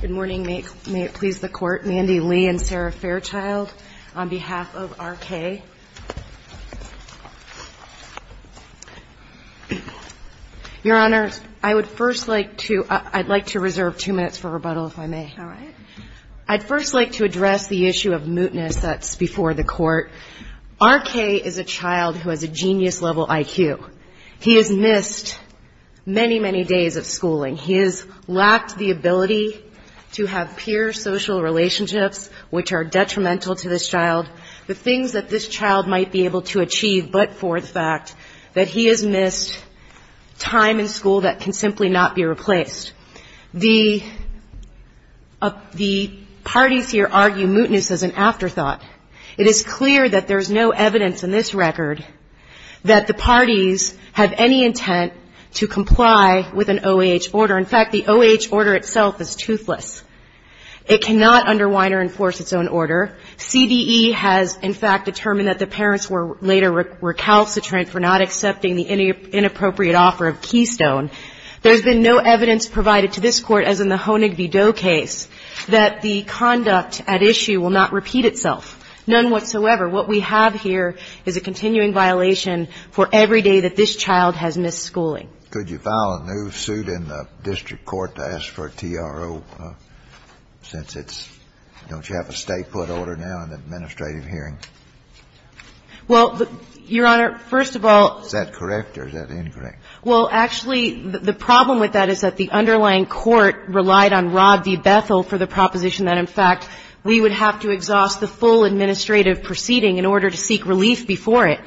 Good morning. May it please the Court, Mandy Lee and Sarah Fairchild on behalf of R.K. Your Honor, I would first like to reserve two minutes for rebuttal, if I may. All right. I'd first like to address the issue of mootness that's before the Court. R.K. is a child who has a genius-level IQ. He has missed many, many days of schooling. He has lacked the ability to have peer social relationships, which are detrimental to this child, the things that this child might be able to achieve, but for the fact that he has missed time in school that can simply not be replaced. The parties here argue mootness is an afterthought. It is clear that there is no evidence in this record that the parties have any intent to comply with an OAH order. In fact, the OAH order itself is toothless. It cannot underwine or enforce its own order. CDE has, in fact, determined that the parents were later recalcitrant for not accepting the inappropriate offer of Keystone. There's been no evidence provided to this Court, as in the Honig v. Doe case, that the conduct at issue will not repeat itself, none whatsoever. What we have here is a continuing violation for every day that this child has missed schooling. So could you file a new suit in the district court to ask for a TRO since it's don't you have a state put order now in the administrative hearing? Well, Your Honor, first of all. Is that correct or is that incorrect? Well, actually, the problem with that is that the underlying court relied on Rob v. Bethel for the proposition that, in fact, we would have to exhaust the full administrative proceeding in order to seek relief before it.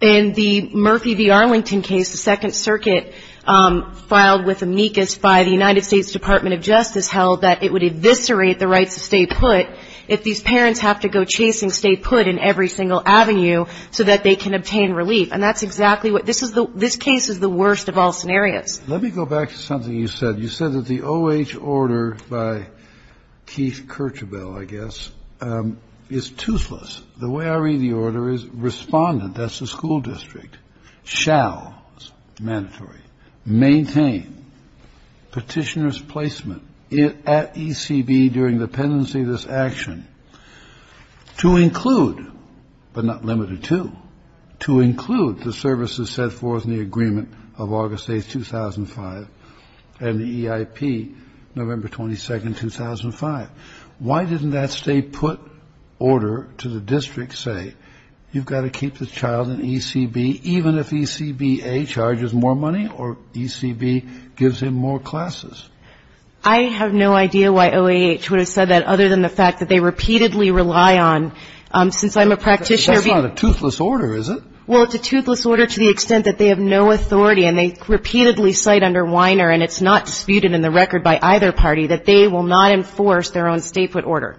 In the Murphy v. Arlington case, the Second Circuit filed with amicus by the United States Department of Justice held that it would eviscerate the rights of state put if these parents have to go chasing state put in every single avenue so that they can obtain relief. And that's exactly what this is. This case is the worst of all scenarios. Let me go back to something you said. You said that the OAH order by Keith Kirchabell, I guess, is toothless. The way I read the order is respondent, that's the school district, shall, mandatory, maintain petitioner's placement at ECB during the pendency of this action to include, but not limited to, to include the services set forth in the agreement of August 8, 2005, and the EIP, November 22, 2005. Why didn't that state put order to the district say, you've got to keep the child in ECB even if ECBA charges more money or ECB gives him more classes? I have no idea why OAH would have said that other than the fact that they repeatedly rely on, since I'm a practitioner. That's not a toothless order, is it? Well, it's a toothless order to the extent that they have no authority and they repeatedly cite under Weiner, and it's not disputed in the record by either party, that they will not enforce their own state put order.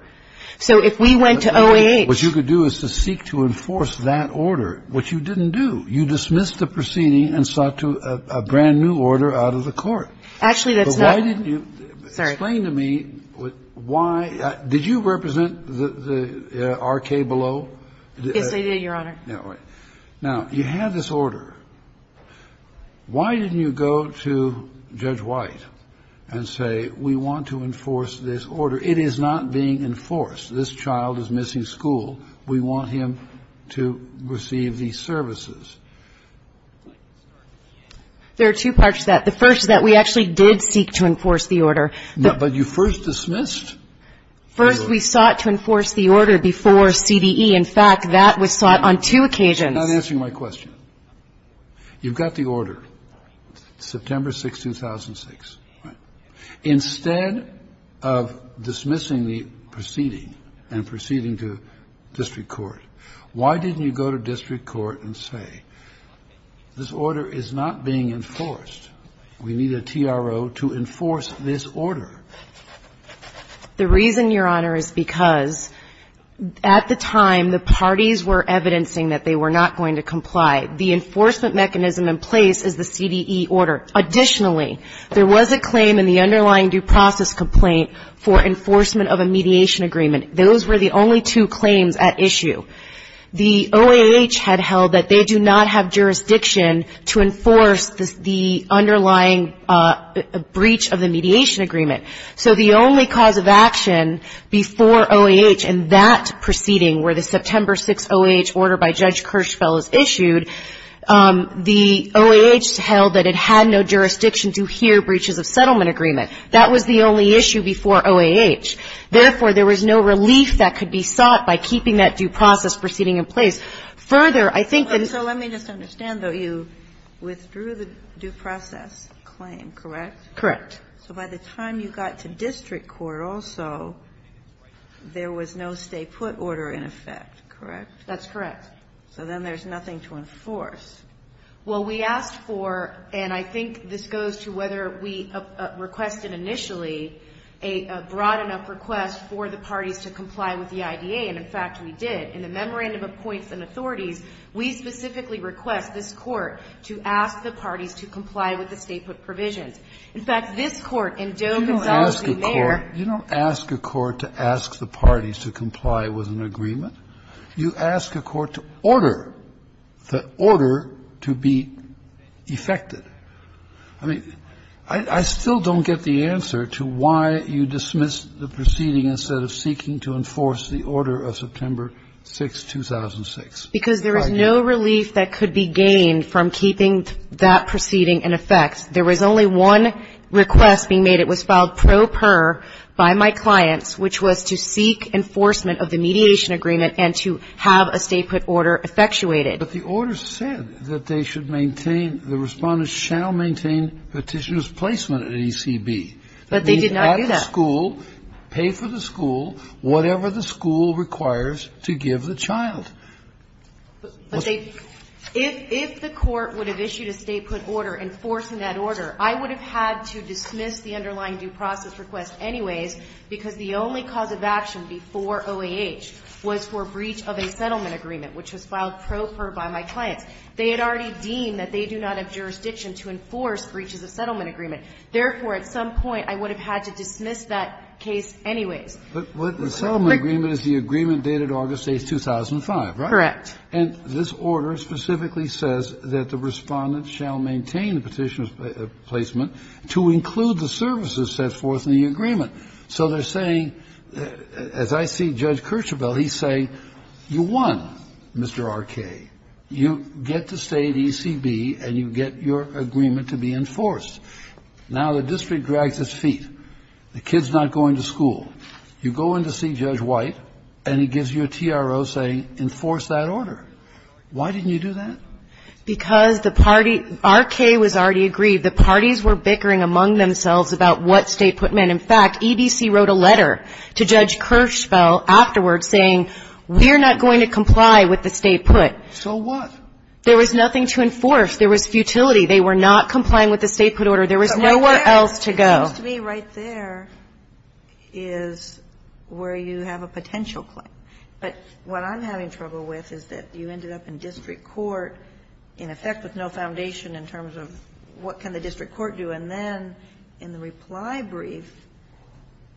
So if we went to OAH. What you could do is to seek to enforce that order, which you didn't do. You dismissed the proceeding and sought to a brand new order out of the court. Actually, that's not. But why didn't you? Sorry. Explain to me why. Did you represent the R.K. Below? Yes, I did, Your Honor. Now, you had this order. Why didn't you go to Judge White and say, we want to enforce this order? It is not being enforced. This child is missing school. We want him to receive these services. There are two parts to that. The first is that we actually did seek to enforce the order. But you first dismissed the order. First, we sought to enforce the order before CDE. In fact, that was sought on two occasions. You're not answering my question. You've got the order, September 6, 2006. Instead of dismissing the proceeding and proceeding to district court, why didn't you go to district court and say, this order is not being enforced. The reason, Your Honor, is because at the time, the parties were evidencing that they were not going to comply. The enforcement mechanism in place is the CDE order. Additionally, there was a claim in the underlying due process complaint for enforcement of a mediation agreement. Those were the only two claims at issue. The OAH had held that they do not have jurisdiction to enforce the underlying breach of the mediation agreement. So the only cause of action before OAH in that proceeding, where the September 6 OAH order by Judge Kirschfeld is issued, the OAH held that it had no jurisdiction to hear breaches of settlement agreement. That was the only issue before OAH. Therefore, there was no relief that could be sought by keeping that due process proceeding in place. Further, I think that the ---- Kagan. So let me just understand, though. You withdrew the due process claim, correct? Correct. So by the time you got to district court also, there was no stay-put order in effect, correct? That's correct. So then there's nothing to enforce. Well, we asked for, and I think this goes to whether we requested initially a broad enough request for the parties to comply with the IDA. And, in fact, we did. In the Memorandum of Points and Authorities, we specifically request this Court to ask the parties to comply with the stay-put provisions. In fact, this Court in Joe Gonzalez v. Mayer ---- You don't ask a court to ask the parties to comply with an agreement. You ask a court to order the order to be effected. I mean, I still don't get the answer to why you dismissed the proceeding instead of seeking to enforce the order of September 6, 2006. Because there was no relief that could be gained from keeping that proceeding in effect. There was only one request being made. And it was filed pro per by my clients, which was to seek enforcement of the mediation agreement and to have a stay-put order effectuated. But the order said that they should maintain, the Respondents shall maintain petitioner's placement at ECB. But they did not do that. At the school, pay for the school, whatever the school requires to give the child. But they ---- If the Court would have issued a stay-put order enforcing that order, I would have had to dismiss the underlying due process request anyways, because the only cause of action before OAH was for breach of a settlement agreement, which was filed pro per by my clients. They had already deemed that they do not have jurisdiction to enforce breaches of settlement agreement. Therefore, at some point, I would have had to dismiss that case anyways. Kennedy. But the settlement agreement is the agreement dated August 8, 2005, right? Correct. And this order specifically says that the Respondents shall maintain the petitioner's placement to include the services set forth in the agreement. So they're saying, as I see Judge Kirchhoff say, you won, Mr. Arkay. You get to stay at ECB and you get your agreement to be enforced. Now the district drags its feet. The kid's not going to school. You go in to see Judge White and he gives you a TRO saying enforce that order. Why didn't you do that? Because the party – Arkay was already aggrieved. The parties were bickering among themselves about what stay put meant. In fact, EBC wrote a letter to Judge Kirchhoff afterwards saying, we're not going to comply with the stay put. So what? There was nothing to enforce. There was futility. They were not complying with the stay put order. There was nowhere else to go. It seems to me right there is where you have a potential claim. But what I'm having trouble with is that you ended up in district court, in effect, with no foundation in terms of what can the district court do, and then in the reply brief,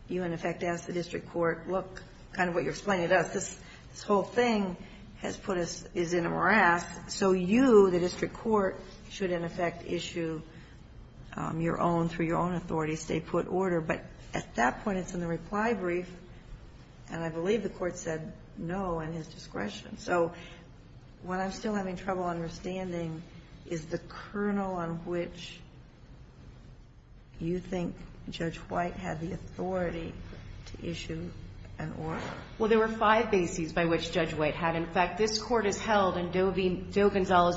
you, in effect, ask the district court, look, kind of what you're explaining to us, this whole thing has put us – is in a morass. So you, the district court, should, in effect, issue your own, through your own authority, stay put order. But at that point, it's in the reply brief, and I believe the Court said no in his discretion. So what I'm still having trouble understanding is the kernel on which you think Judge White had the authority to issue an order. Well, there were five bases by which Judge White had. In fact, this Court has held in Doe v.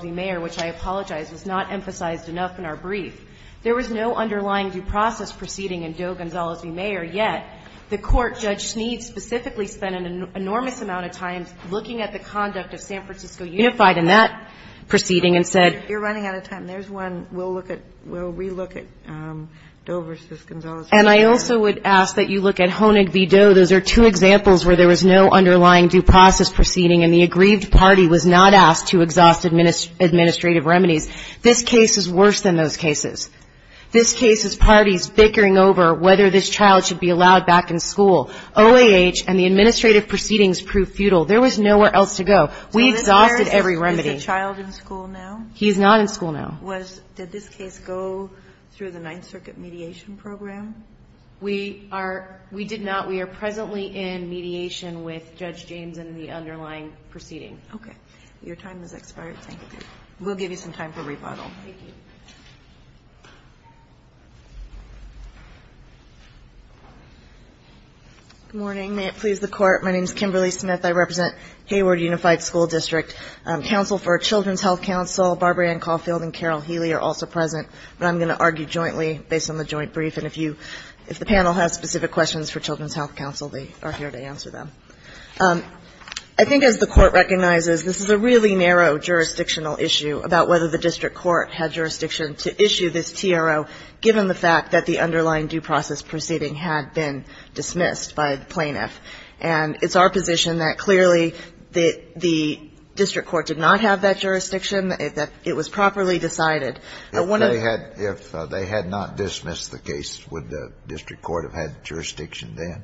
Mayer, which I apologize, was not emphasized enough in our brief. There was no underlying due process proceeding in Doe v. Mayer, yet. The Court, Judge Sneed specifically, spent an enormous amount of time looking at the conduct of San Francisco Unified in that proceeding and said – You're running out of time. There's one. We'll look at – we'll relook at Doe v. Gonzales v. Mayer. And I also would ask that you look at Honig v. Doe. Those are two examples where there was no underlying due process proceeding and the aggrieved party was not asked to exhaust administrative remedies. This case is worse than those cases. This case is parties bickering over whether this child should be allowed back in school. OAH and the administrative proceedings proved futile. There was nowhere else to go. We exhausted every remedy. Is the child in school now? He's not in school now. Was – did this case go through the Ninth Circuit mediation program? We are – we did not. We are presently in mediation with Judge James in the underlying proceeding. Okay. Your time has expired. Thank you. We'll give you some time for rebuttal. Thank you. Good morning. May it please the Court. My name is Kimberly Smith. I represent Hayward Unified School District. Counsel for Children's Health Council, Barbara Ann Caulfield and Carol Healy are also present, but I'm going to argue jointly based on the joint brief. And if you – if the panel has specific questions for Children's Health Council, they are here to answer them. I think as the Court recognizes, this is a really narrow jurisdictional issue about whether the district court had jurisdiction to issue this TRO given the fact that the underlying due process proceeding had been dismissed by the plaintiff. And it's our position that clearly the district court did not have that jurisdiction, that it was properly decided. If they had not dismissed the case, would the district court have had jurisdiction then?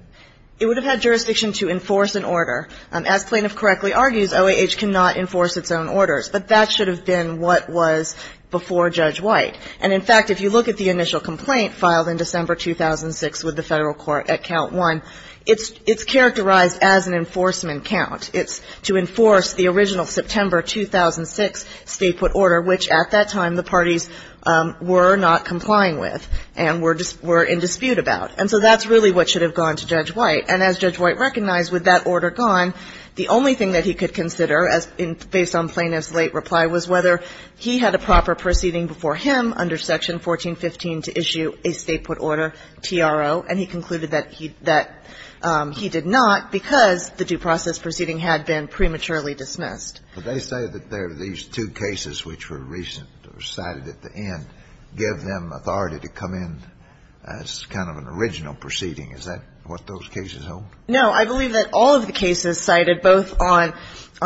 It would have had jurisdiction to enforce an order. As plaintiff correctly argues, OAH cannot enforce its own orders, but that should have been what was before Judge White. And, in fact, if you look at the initial complaint filed in December 2006 with the Federal Court at count one, it's characterized as an enforcement count. It's to enforce the original September 2006 state put order, which at that time the parties were not complying with and were in dispute about. And so that's really what should have gone to Judge White. And as Judge White recognized, with that order gone, the only thing that he could consider based on plaintiff's late reply was whether he had a proper proceeding before him under Section 1415 to issue a state put order, TRO, and he concluded that he did not because the due process proceeding had been prematurely dismissed. They say that there are these two cases which were recent or cited at the end, and that's why the State Department has to give them authority to come in as kind of an original proceeding. Is that what those cases hold? No. I believe that all of the cases cited both on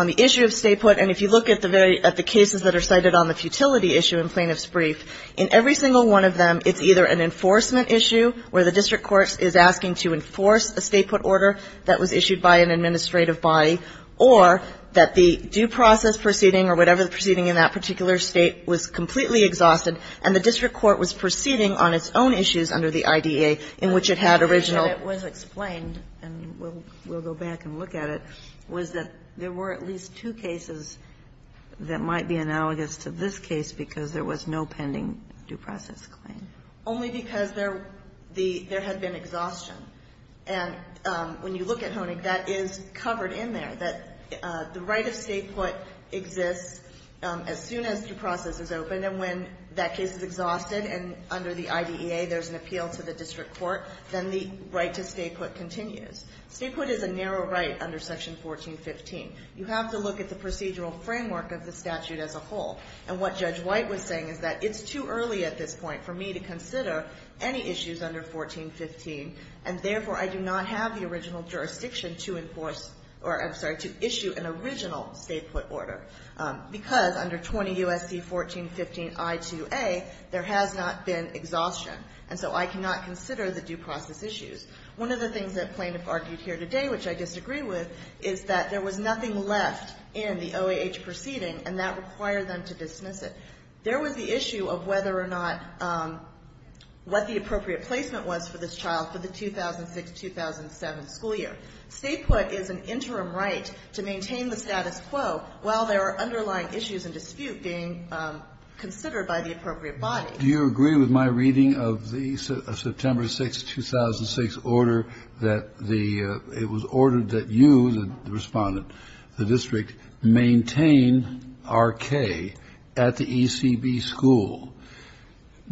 the issue of state put, and if you look at the cases that are cited on the futility issue in Plaintiff's Brief, in every single one of them it's either an enforcement issue where the district court is asking to enforce a state put order that was issued by an administrative body, or that the due process proceeding or whatever the proceeding in that particular State was completely exhausted, and the district court was proceeding on its own issues under the IDA in which it had original. It was explained, and we'll go back and look at it, was that there were at least two cases that might be analogous to this case because there was no pending due process claim. Only because there had been exhaustion. And when you look at Honig, that is covered in there, that the right of state put exists as soon as due process is open, and when that case is exhausted and under the IDEA there's an appeal to the district court, then the right to state put continues. State put is a narrow right under Section 1415. You have to look at the procedural framework of the statute as a whole, and what Judge White was saying is that it's too early at this point for me to consider any issues under 1415, and therefore I do not have the original jurisdiction to enforce, or I'm sorry, to issue an original state put order. Because under 20 U.S.C. 1415 I2A, there has not been exhaustion. And so I cannot consider the due process issues. One of the things that plaintiff argued here today, which I disagree with, is that there was nothing left in the OAH proceeding, and that required them to dismiss it. There was the issue of whether or not what the appropriate placement was for this child for the 2006-2007 school year. State put is an interim right to maintain the status quo while there are underlying issues and dispute being considered by the appropriate body. Kennedy. Do you agree with my reading of the September 6, 2006, order that the, it was ordered that you, the Respondent, the district, maintain R.K. at the ECB school,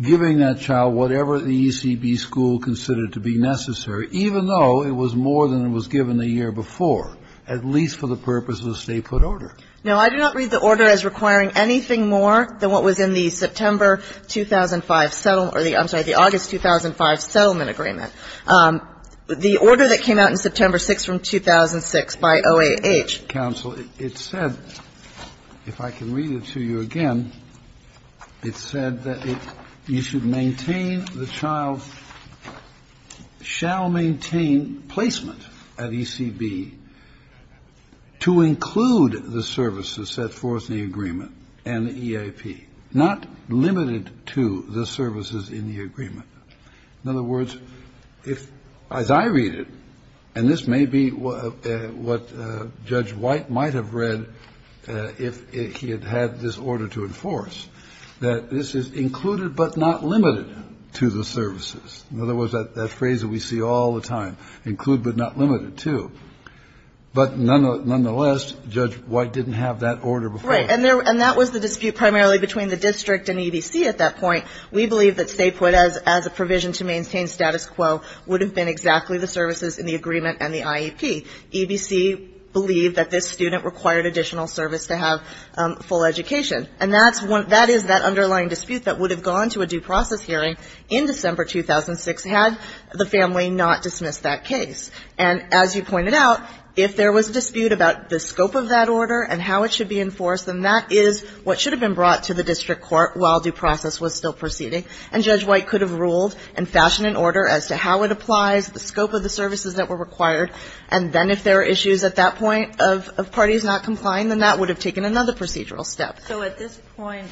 giving that child whatever the ECB school considered to be necessary, even though it was more than it was given the year before, at least for the purpose of the state put order? No. I do not read the order as requiring anything more than what was in the September 2005 settlement or the, I'm sorry, the August 2005 settlement agreement. The order that came out in September 6 from 2006 by OAH. Counsel, it said, if I can read it to you again, it said that it, you should maintain the child, shall maintain placement at ECB to include the services set forth in the agreement and the EAP, not limited to the services in the agreement. In other words, if, as I read it, and this may be what Judge White might have read if he had had this order to enforce, that this is included but not limited to the services. In other words, that phrase that we see all the time, include but not limited to. But nonetheless, Judge White didn't have that order before. Right. And that was the dispute primarily between the district and EBC at that point. We believe that stay put as a provision to maintain status quo would have been exactly the services in the agreement and the IEP. EBC believed that this student required additional service to have full education. And that is that underlying dispute that would have gone to a due process hearing in December 2006 had the family not dismissed that case. And as you pointed out, if there was a dispute about the scope of that order and how it should be enforced, then that is what should have been brought to the district proceeding. And Judge White could have ruled and fashioned an order as to how it applies, the scope of the services that were required. And then if there were issues at that point of parties not complying, then that would have taken another procedural step. So at this point,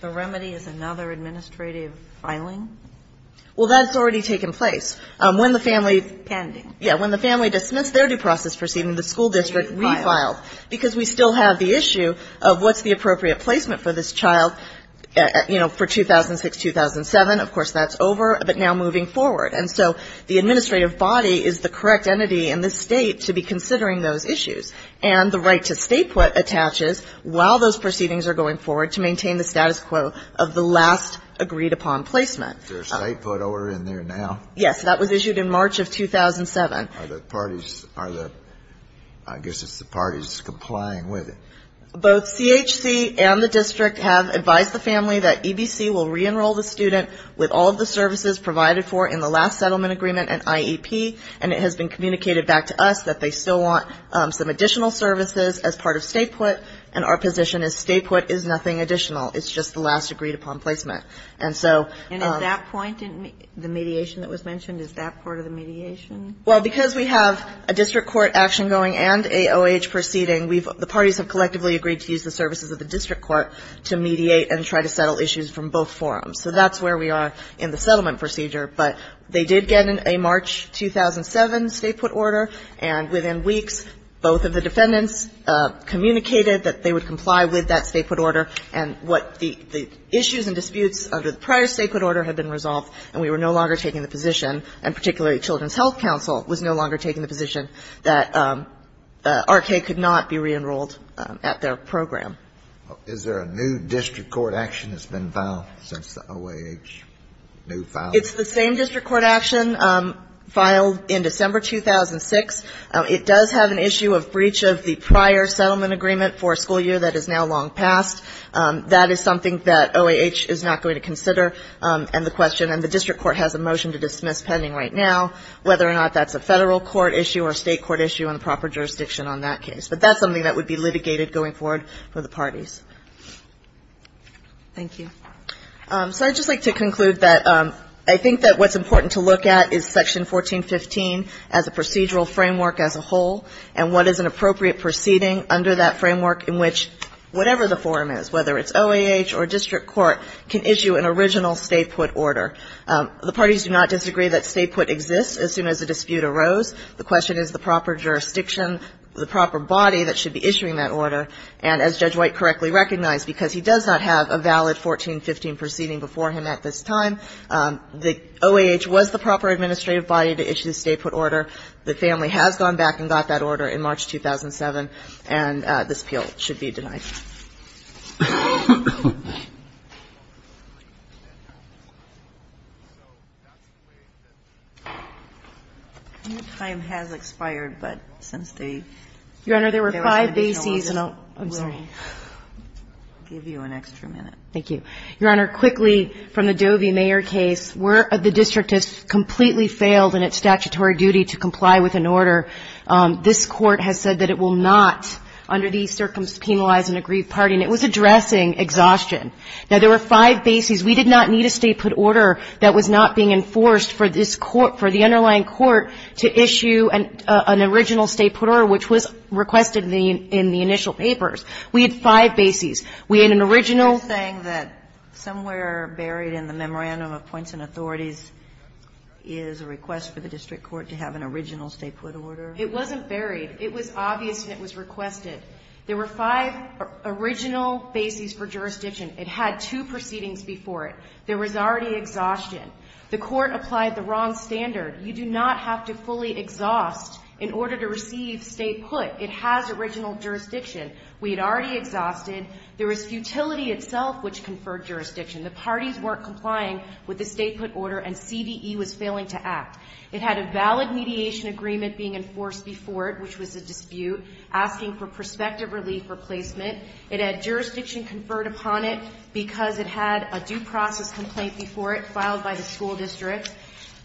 the remedy is another administrative filing? Well, that's already taken place. When the family's pending. Yeah. When the family dismissed their due process proceeding, the school district refiled. Because we still have the issue of what's the appropriate placement for this child, you know, for 2006-2007. Of course, that's over. But now moving forward. And so the administrative body is the correct entity in this State to be considering those issues. And the right to State put attaches while those proceedings are going forward to maintain the status quo of the last agreed-upon placement. Is there a State put order in there now? Yes. That was issued in March of 2007. Are the parties, are the, I guess it's the parties complying with it. Both CHC and the district have advised the family that EBC will re-enroll the student with all of the services provided for in the last settlement agreement and IEP. And it has been communicated back to us that they still want some additional services as part of State put. And our position is State put is nothing additional. It's just the last agreed-upon placement. And so. And at that point, the mediation that was mentioned, is that part of the mediation? Well, because we have a district court action going and AOH proceeding, the parties have collectively agreed to use the services of the district court to mediate and try to settle issues from both forums. So that's where we are in the settlement procedure. But they did get a March 2007 State put order. And within weeks, both of the defendants communicated that they would comply with that State put order. And what the issues and disputes under the prior State put order had been resolved and we were no longer taking the position, and particularly Children's Health Counsel was no longer taking the position, that R.K. could not be reenrolled at their program. Is there a new district court action that's been filed since the OAH new file? It's the same district court action filed in December 2006. It does have an issue of breach of the prior settlement agreement for a school year that is now long past. That is something that OAH is not going to consider. And the question, and the district court has a motion to dismiss pending right now whether or not that's a Federal court issue or a State court issue on the proper jurisdiction on that case. But that's something that would be litigated going forward for the parties. Thank you. So I'd just like to conclude that I think that what's important to look at is Section 1415 as a procedural framework as a whole and what is an appropriate proceeding under that framework in which whatever the forum is, whether it's OAH or district court, can issue an original State put order. The parties do not disagree that State put exists as soon as a dispute arose. The question is the proper jurisdiction, the proper body that should be issuing that order. And as Judge White correctly recognized, because he does not have a valid 1415 proceeding before him at this time, the OAH was the proper administrative body to issue the State put order. The family has gone back and got that order in March 2007, and this appeal should be denied. Your Honor, there were five bases and I'll give you an extra minute. Thank you. Your Honor, quickly from the Dovey-Mayer case, where the district has completely failed in its statutory duty to comply with an order, this Court has said that it will not, under these circumstances, penalize an aggrieved party. And it was addressing exhaustion. Now, there were five bases. We did not need a State put order that was not being enforced for this Court, for the underlying Court, to issue an original State put order, which was requested in the initial papers. We had five bases. We had an original. Sotomayor is saying that somewhere buried in the memorandum of points and authorities is a request for the district court to have an original State put order? It wasn't buried. It was obvious and it was requested. There were five original bases for jurisdiction. It had two proceedings before it. There was already exhaustion. The Court applied the wrong standard. You do not have to fully exhaust in order to receive State put. It has original jurisdiction. We had already exhausted. There was futility itself which conferred jurisdiction. The parties weren't complying with the State put order and CDE was failing to act. It had a valid mediation agreement being enforced before it, which was a dispute, asking for prospective relief replacement. It had jurisdiction conferred upon it because it had a due process complaint before it filed by the school district.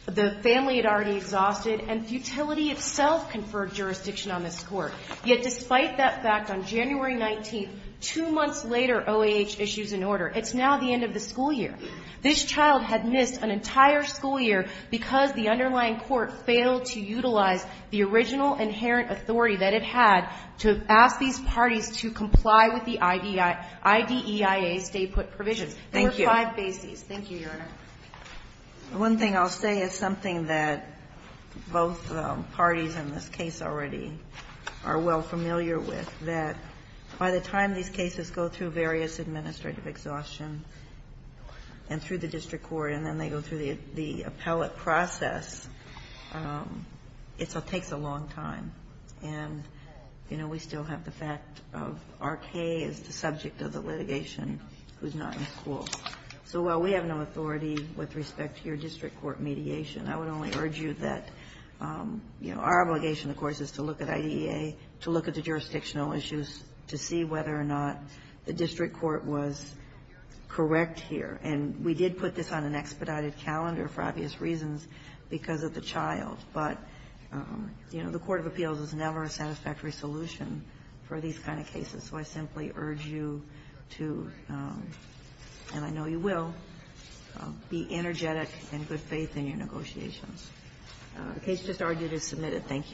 The family had already exhausted, and futility itself conferred jurisdiction on this Court. Yet despite that fact, on January 19th, two months later, OAH issues an order. It's now the end of the school year. This child had missed an entire school year because the underlying court failed to utilize the original inherent authority that it had to ask these parties to comply with the IDEIA State put provisions. There were five bases. Thank you, Your Honor. Ginsburg. One thing I'll say is something that both parties in this case already are well familiar with, that by the time these cases go through various administrative exhaustion and through the district court and then they go through the appellate process, it takes a long time. And, you know, we still have the fact of R.K. is the subject of the litigation who's not in school. So while we have no authority with respect to your district court mediation, I would only urge you that, you know, our obligation, of course, is to look at IDEIA, to look at the jurisdictional issues, to see whether or not the district court was correct here. And we did put this on an expedited calendar for obvious reasons because of the child. But, you know, the court of appeals is never a satisfactory solution for these kind of cases. So I simply urge you to, and I know you will, be energetic and good faith in your negotiations. The case just argued is submitted. Thank you. Thank you. Thank you.